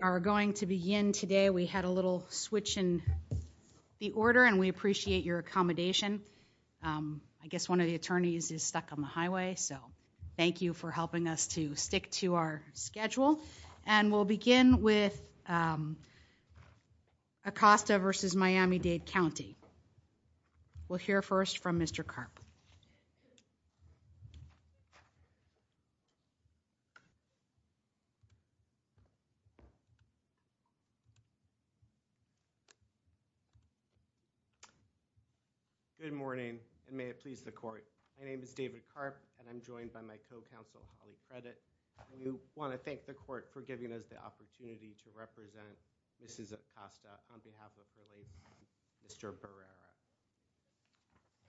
are going to begin today. We had a little switch in the order and we appreciate your accommodation. I guess one of the attorneys is stuck on the highway, so thank you for helping us to stick to our schedule. And we'll begin with Acosta v. Miami-Dade County. We'll hear first from Mr. Karp. Good morning, and may it please the court. My name is David Karp, and I'm joined by my co-counsel Holly Credit. I want to thank the court for giving us the opportunity to represent Mrs. Acosta on behalf of her late son, Mr. Barrera.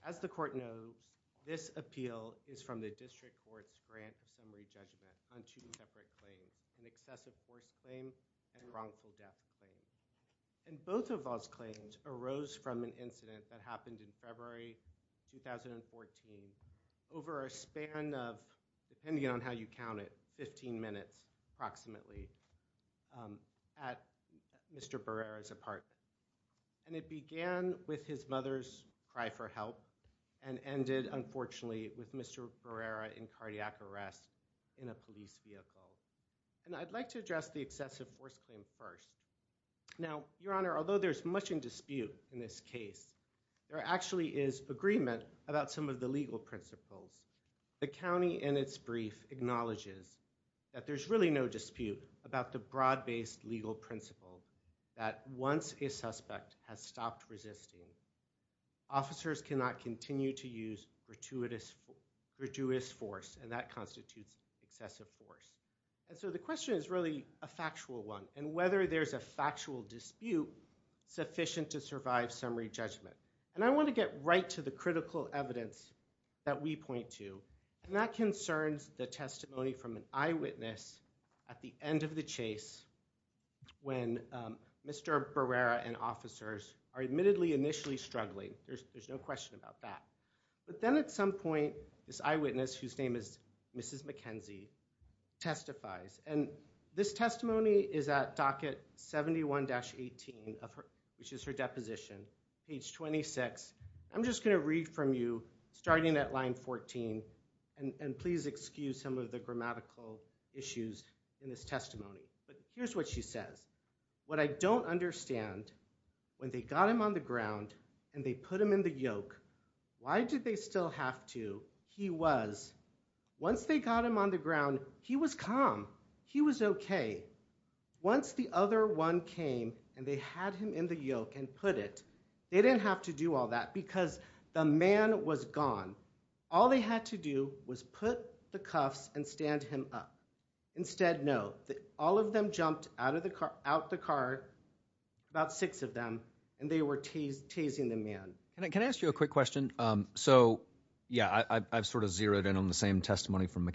As the court knows, this appeal is from the district court's grand assembly judgment on two separate claims, an excessive force claim and wrongful death claim. And both of those claims arose from an incident that happened in February 2014 over a span of, depending on how you approximately at Mr. Barrera's apartment. And it began with his mother's cry for help and ended, unfortunately, with Mr. Barrera in cardiac arrest in a police vehicle. And I'd like to address the excessive force claim first. Now, Your Honor, although there's much in dispute in this case, there actually is agreement about some of the legal principles. The county in its brief acknowledges that there's really no dispute about the broad-based legal principle that once a suspect has stopped resisting, officers cannot continue to use gratuitous force, and that constitutes excessive force. And so the question is really a factual one, and whether there's a factual dispute sufficient to survive summary judgment. And I want to get right to the critical evidence that we point to, and that concerns the testimony from an eyewitness at the end of the chase when Mr. Barrera and officers are admittedly initially struggling. There's no question about that. But then at some point, this eyewitness, whose name is Mrs. McKenzie, testifies. And this testimony is at docket 71-18, which is her deposition, page 26. I'm just going to read from you, starting at line 14, and please excuse some of the grammatical issues in this testimony. But here's what she says. What I don't understand, when they got him on the ground and they put him in the yoke, why did they still have to? He was. Once they got him on the ground, he was calm. He was okay. Once the other one came and they had him in the yoke and put it, they didn't have to do all that because the man was gone. All they had to do was put the cuffs and stand him up. Instead, no. All of them jumped out of the car, out the car, about six of them, and they were tasing the man. Can I ask you a quick question? So yeah, I've sort of zeroed in on the same testimony from I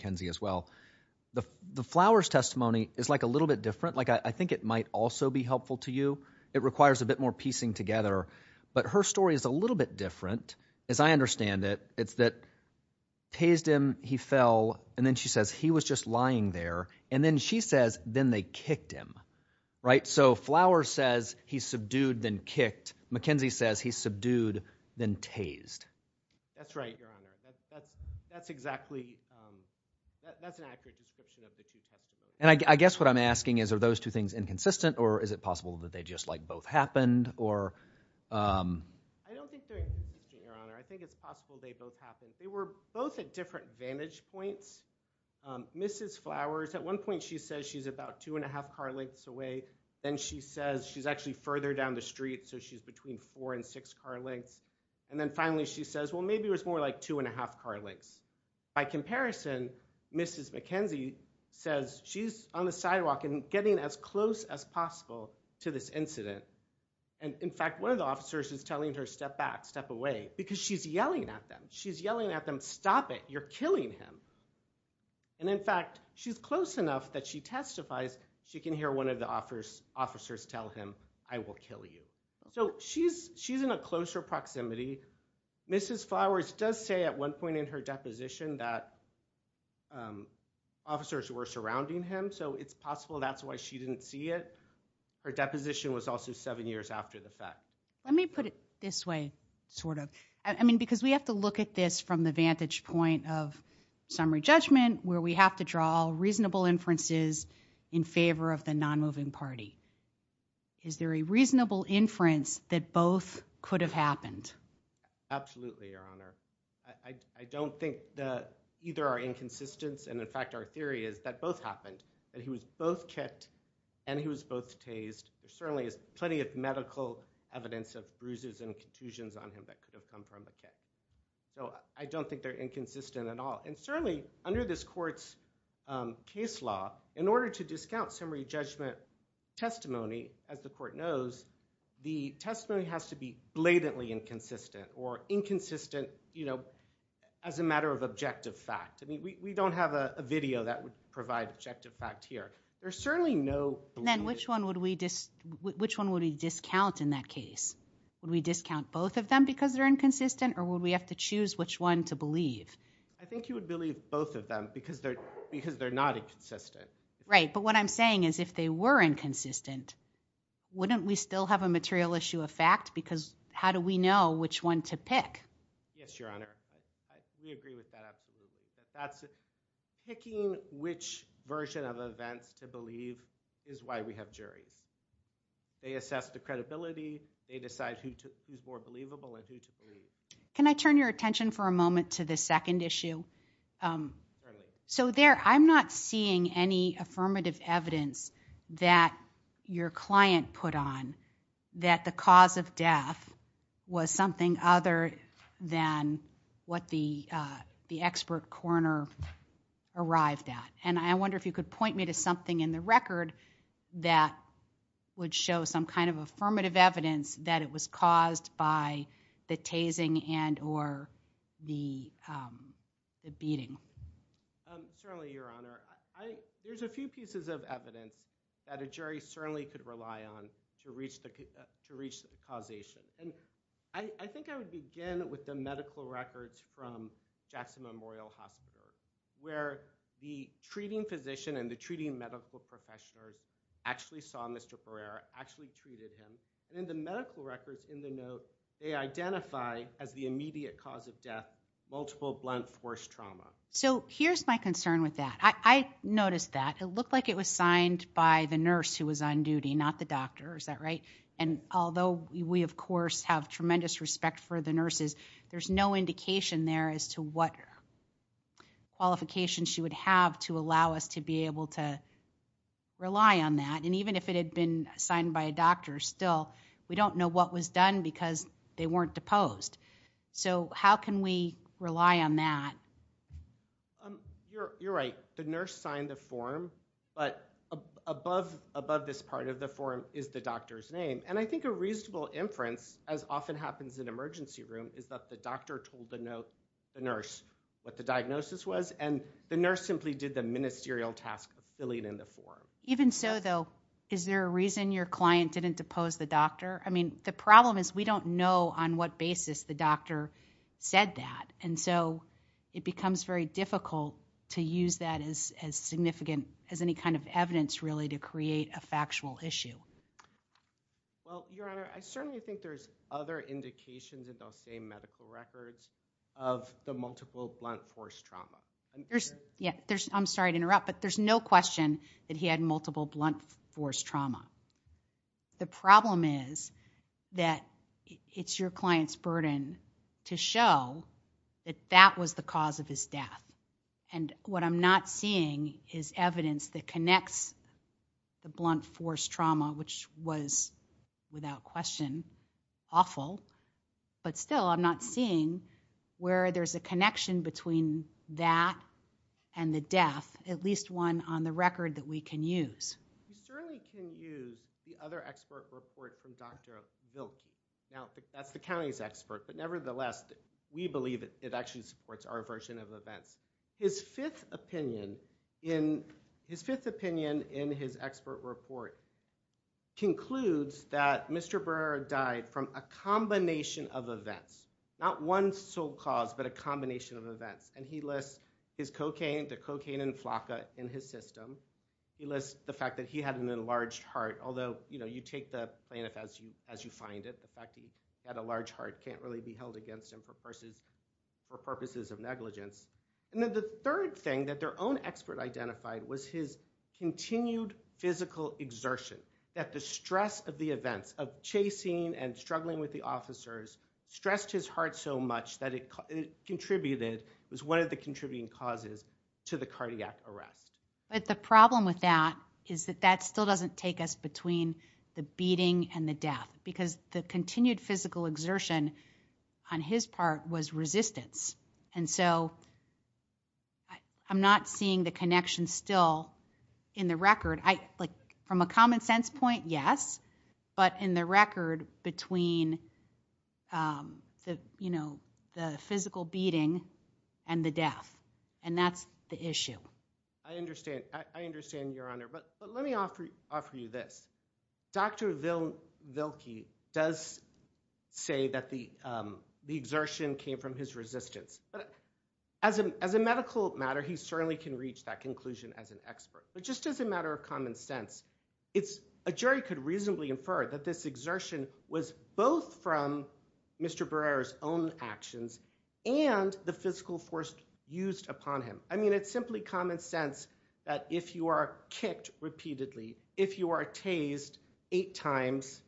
think it might also be helpful to you. It requires a bit more piecing together, but her story is a little bit different. As I understand it, it's that tased him, he fell, and then she says he was just lying there. And then she says, then they kicked him. Right? So Flowers says he subdued, then kicked. McKenzie says he subdued, then tased. That's right, Your Honor. That's exactly, that's an accurate description of the two things. Inconsistent or is it possible that they just like both happened or? I don't think they're inconsistent, Your Honor. I think it's possible they both happened. They were both at different vantage points. Mrs. Flowers, at one point she says she's about two and a half car lengths away. Then she says she's actually further down the street, so she's between four and six car lengths. And then finally she says, well, maybe it was more like two and a half car lengths. By comparison, Mrs. McKenzie says she's on the sidewalk and getting as close as possible to this incident. And in fact, one of the officers is telling her, step back, step away, because she's yelling at them. She's yelling at them, stop it, you're killing him. And in fact, she's close enough that she testifies, she can hear one of the officers tell him, I will kill you. So she's in a closer proximity. Mrs. Flowers does say at one point in her deposition that officers were surrounding him, so it's possible that's why she didn't see it. Her deposition was also seven years after the fact. Let me put it this way, sort of. I mean, because we have to look at this from the vantage point of summary judgment, where we have to draw reasonable inferences in favor of the non-moving party. Is there a I don't think that either our inconsistence and, in fact, our theory is that both happened, that he was both kicked and he was both tased. There certainly is plenty of medical evidence of bruises and contusions on him that could have come from a kick. So I don't think they're inconsistent at all. And certainly, under this court's case law, in order to discount summary judgment testimony, as the court knows, the testimony has to be blatantly inconsistent or inconsistent, you know, as a matter of objective fact. I mean, we don't have a video that would provide objective fact here. There's certainly no... Then which one would we discount in that case? Would we discount both of them because they're inconsistent, or would we have to choose which one to believe? I think you would believe both of them because they're not inconsistent. Right, but what I'm saying is if they were inconsistent, wouldn't we still have a material issue of fact? Because how do we know which one to pick? Yes, Your Honor, we agree with that absolutely. Picking which version of events to believe is why we have juries. They assess the credibility, they decide who's more believable, and who to believe. Can I turn your attention for a moment to the second issue? Certainly. So there, I'm not seeing any affirmative evidence that your client put on that the cause of death was something other than what the expert coroner arrived at. And I wonder if you could point me to something in the record that would show some kind of affirmative evidence that it was caused by the tasing and or the beating. Certainly, Your Honor. There's a few pieces of evidence that a jury certainly could rely on to reach the causation. And I think I would begin with the medical records from Jackson Memorial Hospital, where the treating physician and the treating medical professionals actually saw Mr. Barrera, actually treated him. And in the medical records in the note, they identify as the immediate cause of I noticed that. It looked like it was signed by the nurse who was on duty, not the doctor, is that right? And although we, of course, have tremendous respect for the nurses, there's no indication there as to what qualifications she would have to allow us to be able to rely on that. And even if it had been signed by a doctor, still, we don't know what was done because they weren't deposed. So how can we rely on that? You're right. The nurse signed the form, but above this part of the form is the doctor's name. And I think a reasonable inference, as often happens in emergency room, is that the doctor told the nurse what the diagnosis was. And the nurse simply did the ministerial task of filling in the form. Even so, though, is there a reason your client didn't depose the doctor? I mean, the problem is we don't know on what basis the doctor said that. And so it becomes very difficult to use that as significant as any kind of evidence, really, to create a factual issue. Well, Your Honor, I certainly think there's other indications in those same medical records of the multiple blunt force trauma. I'm sorry to interrupt, but there's no question that he had multiple blunt force trauma. The problem is that it's your client's burden to show that that was the cause of his death. And what I'm not seeing is evidence that connects the blunt force trauma, which was, without question, awful. But still, I'm not seeing where there's a connection between that and the death, at least one on the record that we can use. We certainly can use the other expert report from Dr. Vilke. Now, that's the county's expert, but nevertheless, we believe it actually supports our version of events. His fifth opinion in his expert report concludes that Mr. Brer died from a combination of events, not one sole cause, but a combination of events. And he lists his cocaine, the cocaine and flaca in his system. He lists the fact that he had an enlarged heart, although you take the plaintiff as you find it. The fact that he had a large heart can't really be held against him for purposes of negligence. And then the third thing that their own expert identified was his continued physical exertion, that the stress of the events of chasing and struggling with the officers stressed his heart so much that it contributed, was one of the contributing causes, to the cardiac arrest. But the problem with that is that that still doesn't take us between the beating and the death, because the continued physical exertion on his part was resistance. And so, I'm not seeing the connection still in the record. From a common sense point, yes, but in the record between the physical beating and the death, and that's the issue. I understand. I understand, Your Honor. But let me offer you this. Dr. Vilke does say that the exertion came from his resistance. But as a medical matter, he certainly can reach that conclusion as an expert. But just as a matter of common sense, a jury could reasonably infer that this exertion was both from Mr. Brer's own actions and the physical force used upon him. It's simply common sense that if you are kicked repeatedly, if you are tased eight times,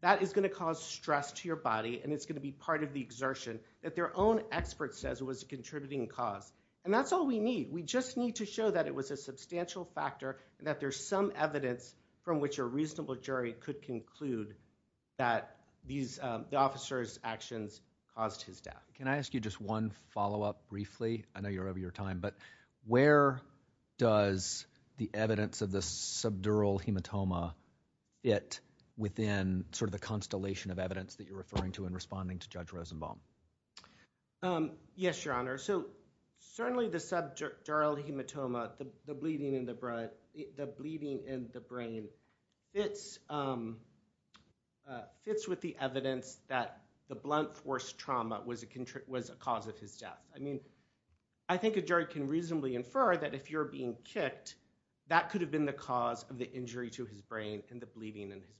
that is going to cause stress to your body, and it's going to be part of the exertion that their own expert says was a contributing cause. And that's all we need. We just need to show that it was a substantial factor and that there's some evidence from which a reasonable jury could conclude that the officer's actions caused his death. Can I ask you just one follow-up briefly? I know you're over your time, but where does the evidence of the subdural hematoma fit within sort of the constellation of evidence that you're referring to in responding to Judge Rosenbaum? Yes, Your Honor. So certainly the subdural hematoma, the bleeding in the brain, fits with the evidence that the blunt force trauma was a cause of his death. I mean, I think a jury can reasonably infer that if you're being kicked, that could have been the cause of the injury to his brain and the bleeding in his brain.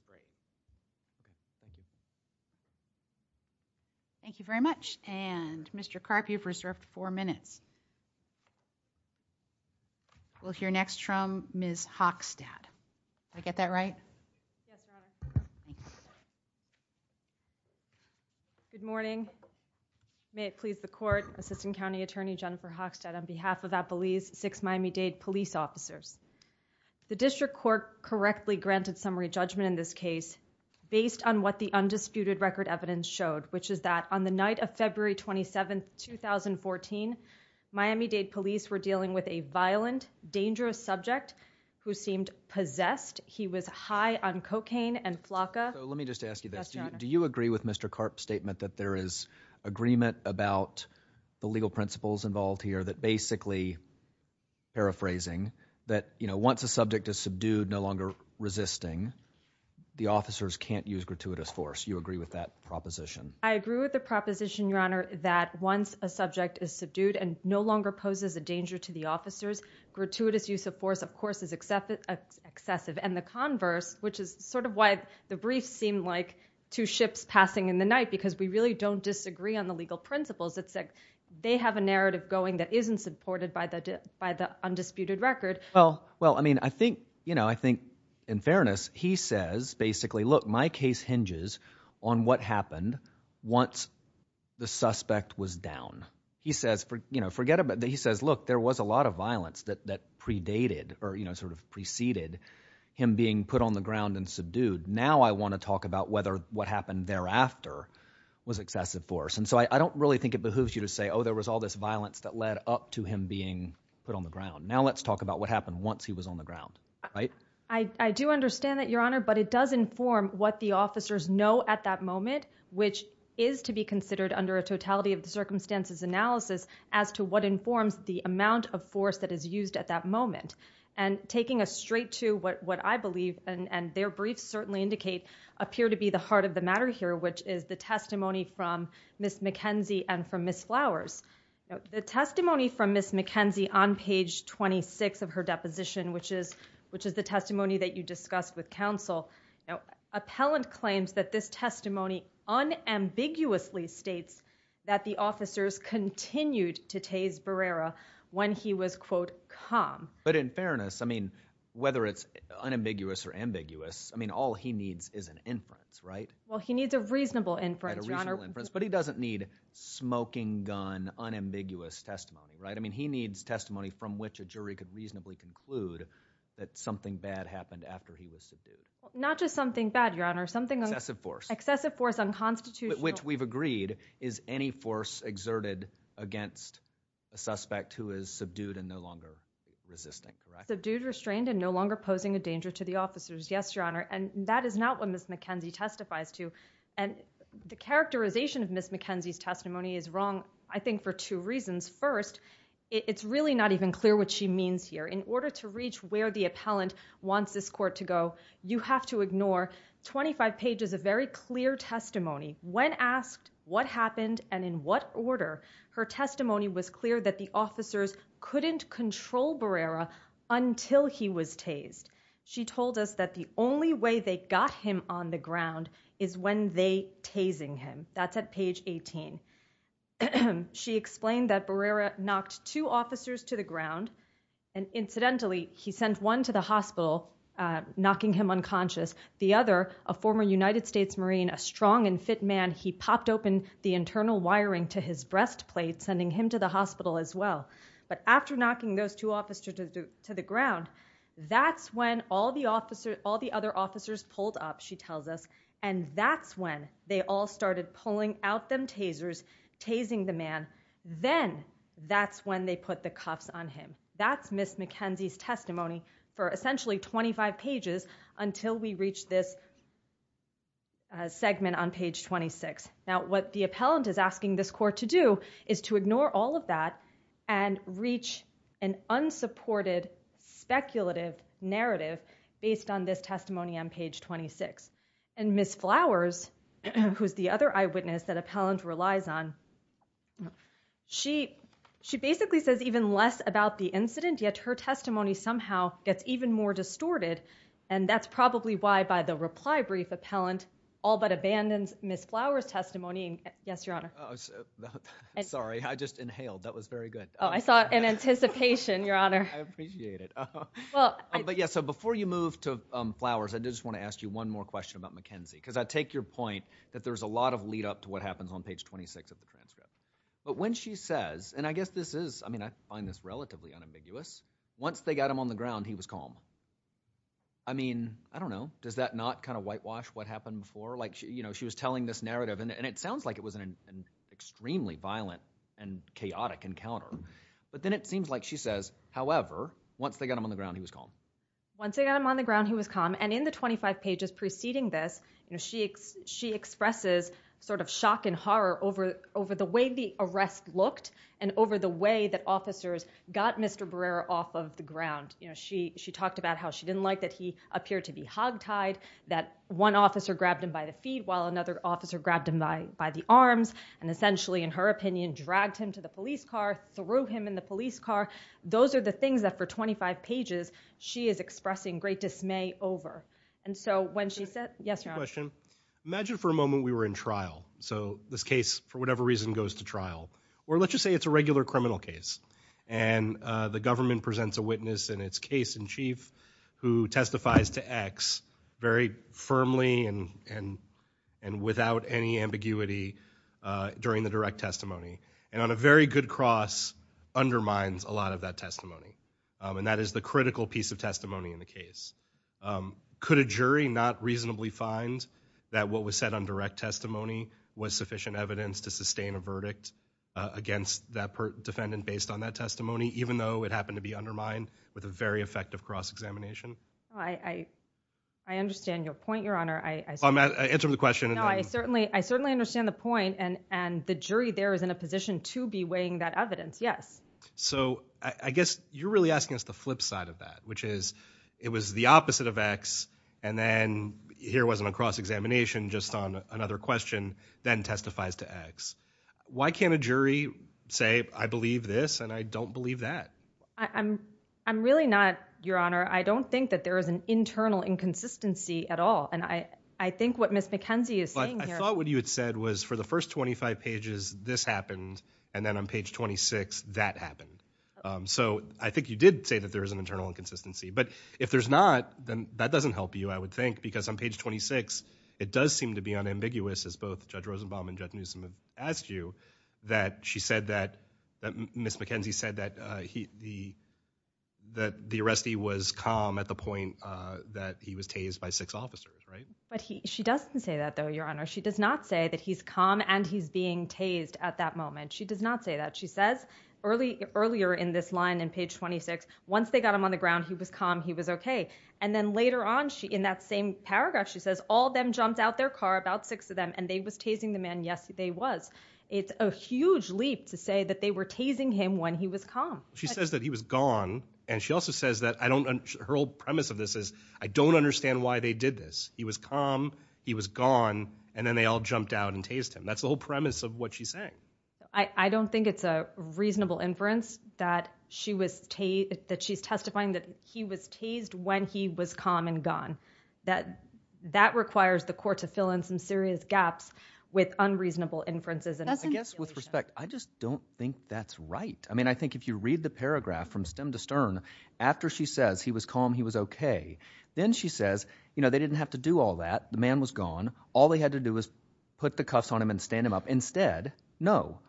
Thank you very much. And Mr. Karp, you've reserved four minutes. We'll hear next from Ms. Hockstad. Did I get that right? Yes, Your Honor. Good morning. May it please the Court, Assistant County Attorney Jennifer Hockstad on behalf of Appalachia's Six Miami-Dade Police Officers. The District Court correctly granted summary judgment in this case based on what the undisputed record evidence showed, which is that on the night of May 27, 2014, Miami-Dade Police were dealing with a violent, dangerous subject who seemed possessed. He was high on cocaine and flakka. Let me just ask you this. Do you agree with Mr. Karp's statement that there is agreement about the legal principles involved here that basically, paraphrasing, that, you know, once a subject is subdued, no longer resisting, the officers can't use gratuitous force. You agree with that proposition? I agree with the proposition, Your Honor, that once a subject is subdued and no longer poses a danger to the officers, gratuitous use of force, of course, is excessive. And the converse, which is sort of why the brief seemed like two ships passing in the night, because we really don't disagree on the legal principles. It's like they have a narrative going that isn't supported by the undisputed record. Well, well, I mean, I think, you know, I think in fairness, he says, basically, look, my case hinges on what happened once the suspect was down. He says, you know, forget about that. He says, look, there was a lot of violence that predated or, you know, sort of preceded him being put on the ground and subdued. Now I want to talk about whether what happened thereafter was excessive force. And so I don't really think it behooves you to say, oh, there was all this violence that led up to him being put on the ground. Now let's talk about what happened once he was on the ground, right? I do understand that, Your Honor, but it does inform what the officers know at that moment, which is to be considered under a totality of the circumstances analysis as to what informs the amount of force that is used at that moment. And taking us straight to what I believe, and their briefs certainly indicate, appear to be the heart of the matter here, which is the testimony from Ms. McKenzie and from Ms. Flowers. The testimony from Ms. McKenzie on page 26 of her deposition, which is, which is the testimony that you discussed with counsel. Now, appellant claims that this testimony unambiguously states that the officers continued to tase Barrera when he was quote calm. But in fairness, I mean, whether it's unambiguous or ambiguous, I mean, all he needs is an inference, right? Well, he needs a reasonable inference inference, but he doesn't need smoking gun unambiguous testimony, right? I mean, he needs testimony from which a jury could reasonably conclude that something bad happened after he was subdued. Not just something bad, Your Honor, something excessive force, excessive force on constitutional, which we've agreed is any force exerted against a suspect who is subdued and no longer resisting, correct? Subdued, restrained, and no longer posing a danger to the officers. Yes, Your Honor. And that is not what Ms. McKenzie testifies to. And the characterization of Ms. McKenzie's testimony is wrong. I think for two reasons. First, it's really not even clear what she means here in order to reach where the appellant wants this court to go. You have to ignore 25 pages of very clear testimony when asked what happened and in what order her testimony was that the officers couldn't control Barrera until he was tased. She told us that the only way they got him on the ground is when they tasing him. That's at page 18. She explained that Barrera knocked two officers to the ground. And incidentally, he sent one to the hospital, knocking him unconscious. The other, a former United States Marine, a strong and fit man, he popped open the internal wiring to his breastplate, sending him to the hospital as well. But after knocking those two officers to the ground, that's when all the other officers pulled up, she tells us. And that's when they all started pulling out them tasers, tasing the man. Then that's when they put the cuffs on him. That's Ms. McKenzie's testimony for essentially 25 pages until we reach this segment on page 26. Now, what the appellant is asking this court to do is to ignore all of that and reach an unsupported, speculative narrative based on this testimony on page 26. And Ms. Flowers, who's the other eyewitness that appellant relies on, she basically says even less about the incident, yet her testimony somehow gets even more distorted and that's probably why by the reply brief, appellant all but abandons Ms. Flowers' testimony. Yes, Your Honor. Sorry, I just inhaled. That was very good. Oh, I saw it in anticipation, Your Honor. I appreciate it. But yeah, so before you move to Flowers, I just want to ask you one more question about McKenzie, because I take your point that there's a lot of lead up to what happens on page 26 of the transcript. But when she says, and I guess this is, I mean, I find this I mean, I don't know, does that not kind of whitewash what happened before? Like, you know, she was telling this narrative and it sounds like it was an extremely violent and chaotic encounter. But then it seems like she says, however, once they got him on the ground, he was calm. Once they got him on the ground, he was calm. And in the 25 pages preceding this, you know, she expresses sort of shock and horror over the way the arrest looked and over the way that officers got Mr. Barrera off of the ground. You know, she talked about how she didn't like that he appeared to be hogtied, that one officer grabbed him by the feet while another officer grabbed him by the arms and essentially, in her opinion, dragged him to the police car, threw him in the police car. Those are the things that for 25 pages, she is expressing great dismay over. And so when she said, yes, Your Honor. Imagine for a moment we were in trial. So this is a regular criminal case. And the government presents a witness in its case in chief who testifies to X very firmly and without any ambiguity during the direct testimony. And on a very good cross, undermines a lot of that testimony. And that is the critical piece of testimony in the case. Could a jury not reasonably find that what was said on direct testimony was sufficient evidence to sustain a verdict against that defendant based on that testimony, even though it happened to be undermined with a very effective cross-examination? I understand your point, Your Honor. I'm answering the question. I certainly understand the point. And the jury there is in a position to be weighing that evidence. Yes. So I guess you're really asking us the flip side of that, which is it was the opposite of X. And then here wasn't a cross-examination just on another question, then testifies to X. Why can't a jury say, I believe this, and I don't believe that? I'm really not, Your Honor. I don't think that there is an internal inconsistency at all. And I think what Ms. McKenzie is saying here. But I thought what you had said was for the first 25 pages, this happened. And then on page 26, that happened. So I think you did say that there is an internal inconsistency. But if there's not, then that doesn't help you, I would think, because on page 26, it does seem to be unambiguous, as both Judge Rosenbaum and Judge Newsom have asked you, that she said that Ms. McKenzie said that the arrestee was calm at the point that he was tased by six officers, right? But she doesn't say that, though, Your Honor. She does not say that he's calm and he's being tased at that moment. She does not say that. She says earlier in this line in page 26, once they got him on the ground, he was calm, he was okay. And then later on, in that same paragraph, she says, all of them jumped out their car, about six of them, and they was tasing the man. Yes, they was. It's a huge leap to say that they were tasing him when he was calm. She says that he was gone. And she also says that her whole premise of this is, I don't understand why they did this. He was calm, he was gone, and then they all jumped out and tased him. That's the whole premise of what she's saying. I don't think it's a reasonable inference that she was, that she's testifying that he was tased when he was calm and gone, that that requires the court to fill in some serious gaps with unreasonable inferences. And I guess with respect, I just don't think that's right. I mean, I think if you read the paragraph from stem to stern, after she says he was calm, he was okay, then she says, you know, they didn't have to do all that. The man was gone. All they had to do was put the cuffs on him and stand him up. Instead, no.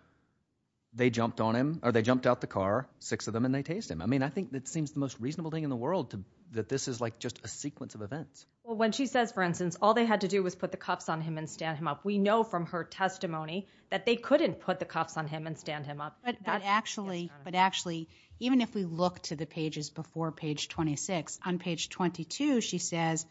They jumped on him, or they jumped out the car, six of them, and they tased him. I mean, I think that seems the most reasonable thing in the world to, that this is like just a sequence of events. Well, when she says, for instance, all they had to do was put the cuffs on him and stand him up, we know from her testimony that they couldn't put the cuffs on him and stand him up. But actually, even if we look to the pages before page 26, on page 22, she says,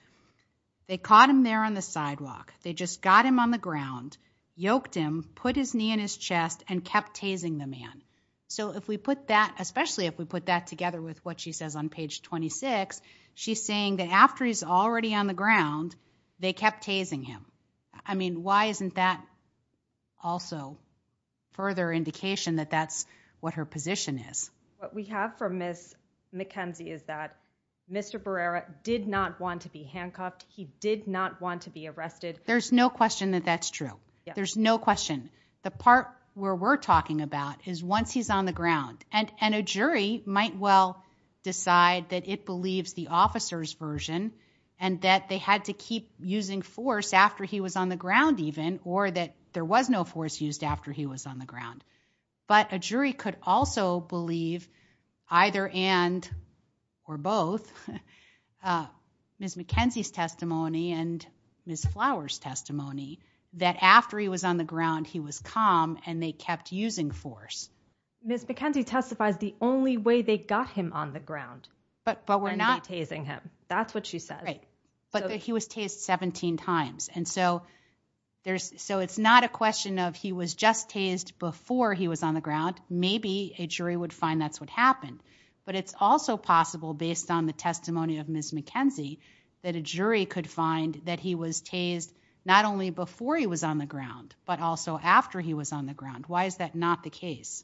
they caught him there on the sidewalk. They just got him on the ground, yoked him, put his knee in his chest, and kept tasing the man. So if we put that, especially if we put that together with what she says on page 26, she's saying that after he's already on the ground, they kept tasing him. I mean, why isn't that also further indication that that's what her position is? What we have from Ms. McKenzie is that Mr. Barrera did not want to be handcuffed. He did not want to be arrested. There's no question that that's true. There's no question. The part where we're talking about is once he's on the ground, and a jury might well decide that it believes the officer's version, and that they had to keep using force after he was on the ground even, or that there was no force used after he was on the ground. But a jury could also believe, either and or both, Ms. McKenzie's testimony and Ms. Flowers' testimony, that after he was on the ground, he was calm, and they kept using force. Ms. McKenzie testifies the only way they got him on the ground, and they're tasing him. That's what she says. Right. But that he was tased 17 times. And so it's not a question of he was just tased before he was on the ground. Maybe a jury would find that's what happened. But it's also possible, based on the testimony of Ms. McKenzie, that a jury could find that he was tased not only before he was on the ground, but also after he was on the ground. Why is that not the case?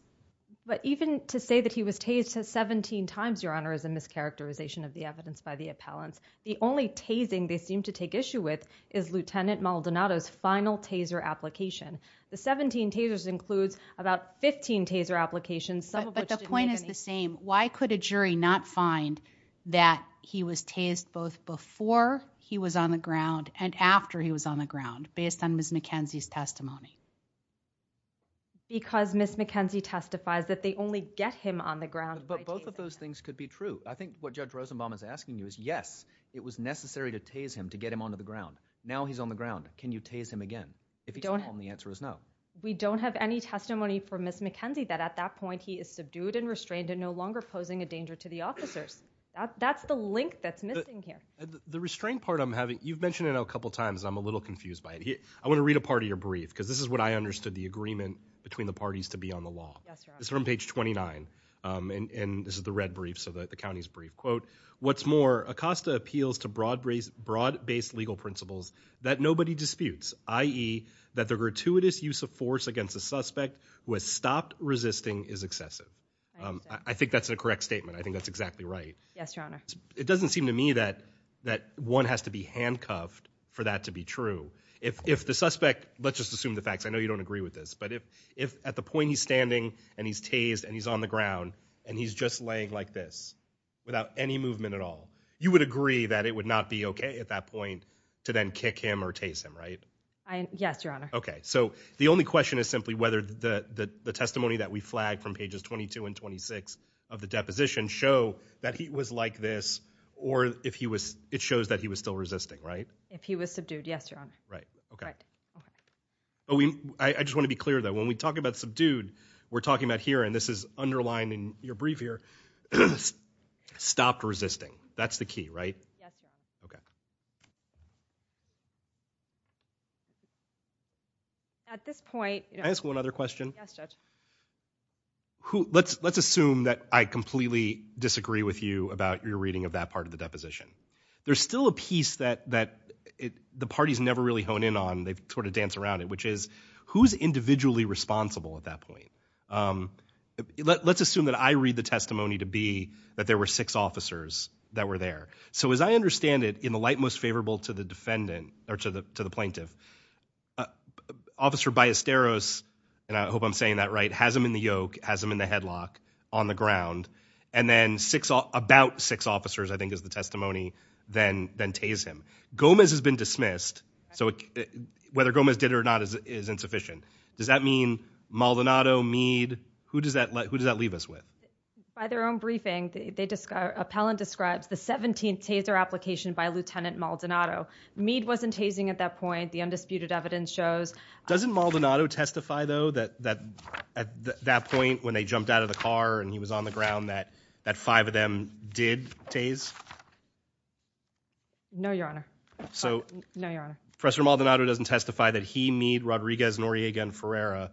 But even to say that he was tased 17 times, Your Honor, is a mischaracterization of the evidence by the appellants. The only tasing they seem to take issue with is Lt. Maldonado's final taser application. The 17 tasers includes about 15 taser applications. But the point is the same. Why could a jury not find that he was tased both before he was on the ground and after he was on the ground, based on Ms. McKenzie's testimony? Because Ms. McKenzie testifies that they only get him on the ground. But both of those things could be true. I think what Judge Rosenbaum is asking you is, yes, it was necessary to tase him, to get him onto the ground. Now he's on the ground. Can you tase him again? If he's wrong, the answer is no. We don't have any testimony from Ms. McKenzie that at that point he is subdued and restrained and no longer posing a danger to the officers. That's the link that's missing here. The restraint part I'm having, you've mentioned it a couple times. I'm a little confused by it. I want to read a part of your brief, because this is when I understood the agreement between the parties to be on the law. It's from page 29. And this is the red brief, the county's brief. What's more, Acosta appeals to broad-based legal principles that nobody disputes, i.e. that the gratuitous use of force against a suspect who has stopped resisting is excessive. I think that's a correct statement. I think that's exactly right. Yes, Your Honor. It doesn't seem to me that one has to be handcuffed for that to be true. If the suspect, let's just assume the facts. I know you don't agree with this. But if at the point he's standing and he's tased and he's on the ground and he's just laying like this without any movement at all, you would agree that it would not be okay at that point to then kick him or tase him, right? Yes, Your Honor. Okay. So the only question is simply whether the testimony that we flagged from pages 22 and 26 of the deposition show that he was like this or if it shows that he was still resisting, right? If he was subdued, yes, Your Honor. Right. Okay. I just want to be talking about here, and this is underlined in your brief here, stopped resisting. That's the key, right? Yes, Your Honor. Okay. At this point... Can I ask one other question? Yes, Judge. Let's assume that I completely disagree with you about your reading of that part of the deposition. There's still a piece that the parties never really hone in on. They sort of dance around it, who's individually responsible at that point? Let's assume that I read the testimony to be that there were six officers that were there. So as I understand it, in the light most favorable to the defendant or to the plaintiff, Officer Ballesteros, and I hope I'm saying that right, has him in the yoke, has him in the headlock on the ground, and then about six officers, I think is the testimony, then tase him. Gomez has been dismissed. So whether Gomez did it or not is insufficient. Does that mean Maldonado, Meade, who does that leave us with? By their own briefing, the appellant describes the 17th taser application by Lieutenant Maldonado. Meade wasn't tasing at that point. The undisputed evidence shows... Doesn't Maldonado testify, though, that at that point when they jumped out of the car and he was on the ground, that five of them did tase? No, Your Honor. No, Your Honor. Professor Maldonado doesn't testify that he, Meade, Rodriguez, Noriega, and Ferreira,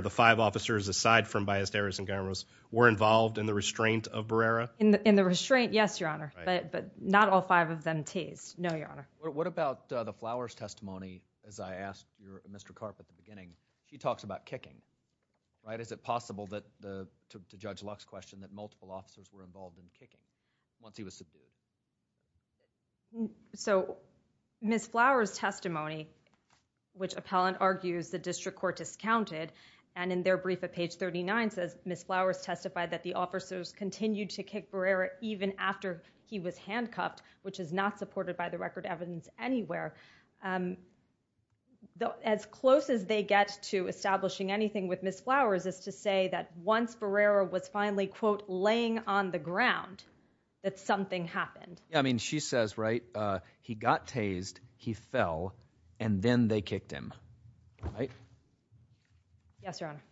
the five officers, aside from Ballesteros and Gomez, were involved in the restraint of Barrera? In the restraint, yes, Your Honor, but not all five of them tased. No, Your Honor. What about the Flowers testimony? As I asked Mr. Karp at the beginning, he talks about kicking, right? Is it possible that, to Judge Luck's question, that multiple officers were involved in kicking once he was subdued? So, Ms. Flowers' testimony, which appellant argues the district court discounted, and in their brief at page 39 says Ms. Flowers testified that the officers continued to kick Barrera even after he was handcuffed, which is not supported by the record evidence anywhere. As close as they get to establishing anything with Ms. Flowers is to say that once Barrera was finally, quote, laying on the ground, that something happened. Yeah, I mean, she says, right, he got tased, he fell, and then they kicked him, right? Yes, Your Honor.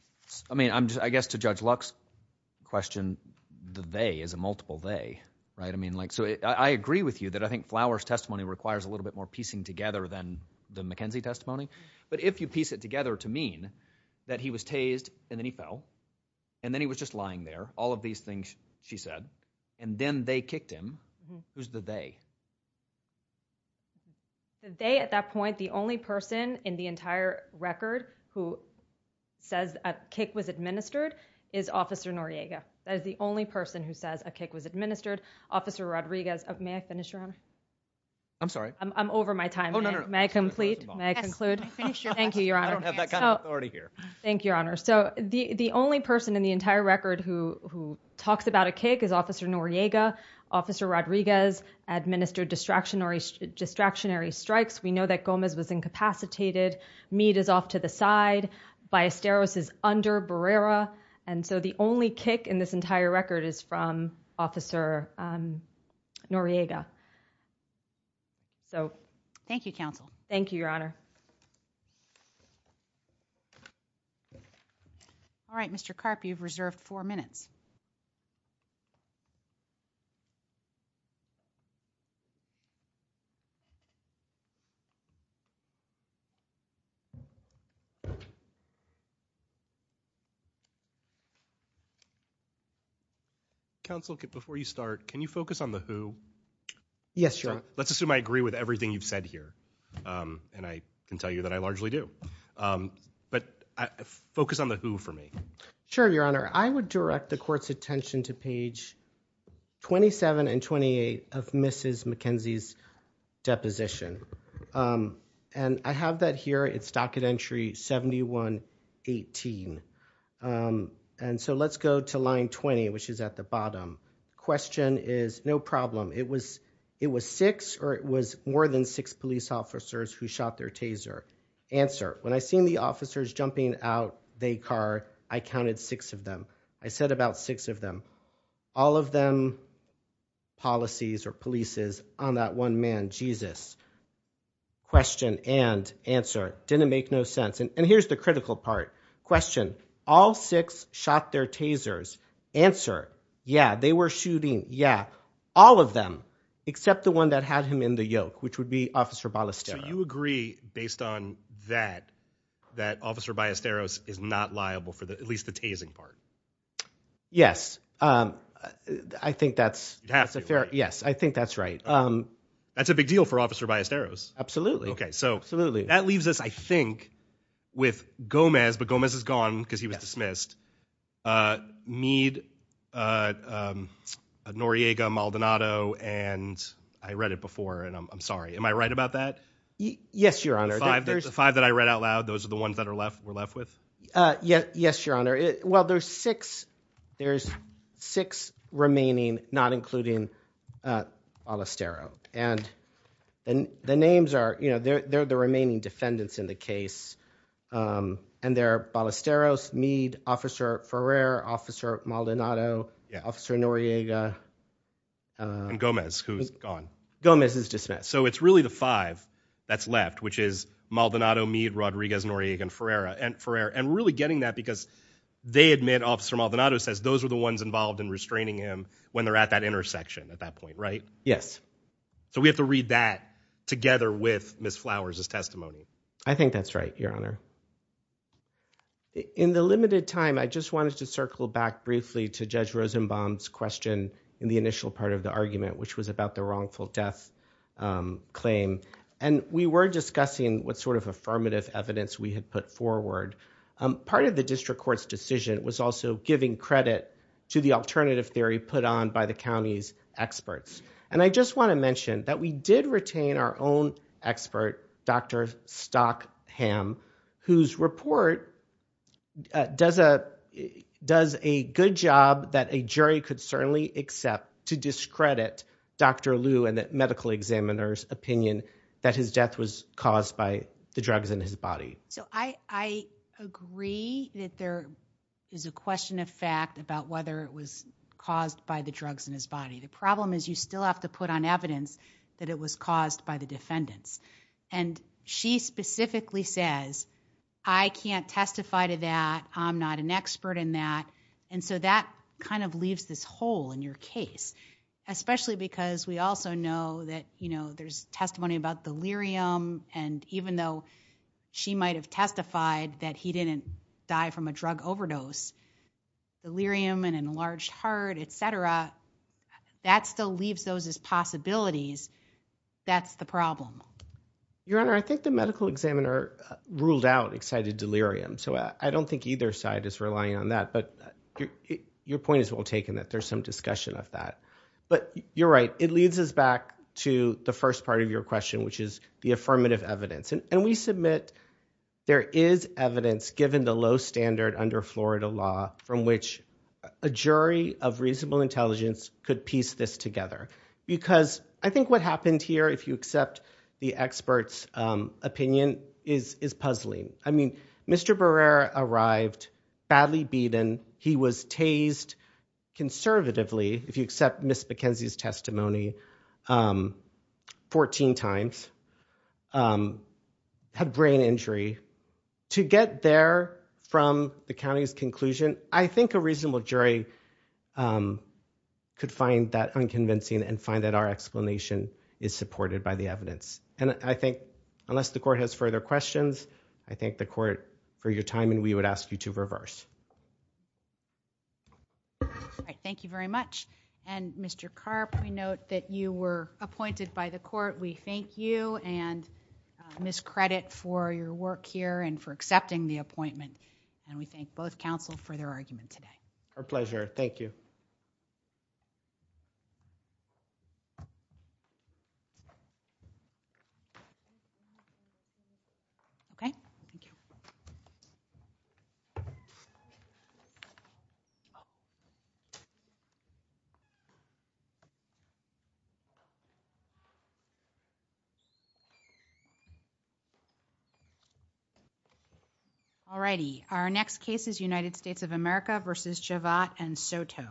I mean, I guess to Judge Luck's question, the they is a multiple they, right? I mean, like, so I agree with you that I think Flowers' testimony requires a little bit more piecing together than the McKenzie testimony, but if you piece it together to mean that he was tased and he fell and then he was just lying there, all of these things she said, and then they kicked him, who's the they? The they at that point, the only person in the entire record who says a kick was administered is Officer Noriega. That is the only person who says a kick was administered. Officer Rodriguez, may I finish, Your Honor? I'm sorry. I'm over my time. May I complete? May I conclude? Yes, finish your question. Thank you, Your Honor. I don't have that kind of authority here. Thank you, Your Honor. So the only person in the entire record who talks about a kick is Officer Noriega. Officer Rodriguez administered distractionary strikes. We know that Gomez was incapacitated. Meade is off to the side. Ballesteros is under Barrera. And so the only kick in this entire record is from Officer Noriega. So thank you, counsel. Thank you, Your Honor. All right, Mr. Karp, you've reserved four minutes. Counsel, before you start, can you focus on the who? Yes, Your Honor. Let's assume I agree with everything you've said here. And I can tell you that I largely do. But focus on the who for me. Sure, Your Honor. I would direct the court's attention to page 27 and 28 of Mrs. McKenzie's deposition. And I have that here. It's docket entry 7118. And so let's go to line 20, which is at the bottom. Question is, no problem. It was six or it was more than six police officers who shot their taser. Answer. When I seen the officers jumping out the car, I counted six of them. I said about six of them. All of them policies or polices on that one man, Jesus. Question and answer. Didn't make no sense. And here's the critical part. Question. All six shot their tasers. Answer. Yeah, they were shooting. Yeah, all of them, except the one that had him in the yoke, which would be Officer Ballesteros. You agree based on that, that Officer Ballesteros is not liable for at least the tasing part? Yes, I think that's a fair. Yes, I think that's right. That's a big deal for Officer Ballesteros. Absolutely. Okay, so that leaves us, I think, with Gomez, but Gomez is gone because he was dismissed. Mead, Noriega, Maldonado. And I read it before and I'm sorry. Am I right about that? Yes, Your Honor. The five that I read out loud. Those are the ones that are left. We're left with. Yes, Your Honor. Well, there's six. There's six remaining, not including Ballesteros. And the names are, you know, they're the remaining defendants in the case. And they're Ballesteros, Mead, Officer Ferrer, Officer Maldonado, Officer Noriega. And Gomez, who's gone. Gomez is dismissed. So it's really the five that's left, which is Maldonado, Mead, Rodriguez, Noriega, and Ferrer. And really getting that because they admit Officer Maldonado says those are the ones involved in restraining him when they're at that intersection at that point, right? Yes. So we have to read that together with Ms. Flowers' testimony. I think that's right, Your Honor. In the limited time, I just wanted to circle back briefly to Judge Rosenbaum's question in the initial part of the argument, which was about the wrongful death claim. And we were discussing what sort of affirmative evidence we had put forward. Part of the district court's decision was also giving credit to the alternative theory put on by the county's experts. And I just want to mention that we did retain our own expert, Dr. Stockham, whose report does a good job that a jury could certainly accept to discredit Dr. Liu and the medical examiner's opinion that his death was caused by the drugs in his body. So I agree that there is a question of fact about whether it was caused by the drugs in his body. The problem is you still have to put on evidence that it was caused by the defendants. And she specifically says, I can't testify to that. I'm not an expert in that. And so that kind of leaves this hole in your case, especially because we also know that, you know, there's testimony about delirium. And even though she might have testified that he didn't die from a drug overdose, delirium and enlarged heart, et cetera, that still leaves those as possibilities. That's the problem. Your Honor, I think the medical examiner ruled out excited delirium. So I don't think either side is relying on that. But your point is well taken that there's some discussion of that. But you're right. It leads us back to the first part of your question, which is the affirmative evidence. And we submit there is evidence, given the low standard under Florida law, from which a jury of reasonable intelligence could piece this together. Because I think what happened here, if you accept the expert's opinion, is puzzling. I mean, Mr. Barrera arrived badly beaten. He was tased conservatively, if you accept Ms. McKenzie's testimony, 14 times. Had brain injury. To get there from the county's conclusion, I think a reasonable jury could find that unconvincing and find that our explanation is supported by the evidence. And I think, unless the court has further questions, I thank the court for your time and we would ask you to reverse. All right. Thank you very much. And Mr. Karp, we note that you were appointed by the court. We thank you and Ms. Credit for your work here and for accepting the appointment. And we thank both counsel for their argument today. Our pleasure. Thank you. Okay, thank you. All righty. Our next case is United States of America versus Chavat and Soto.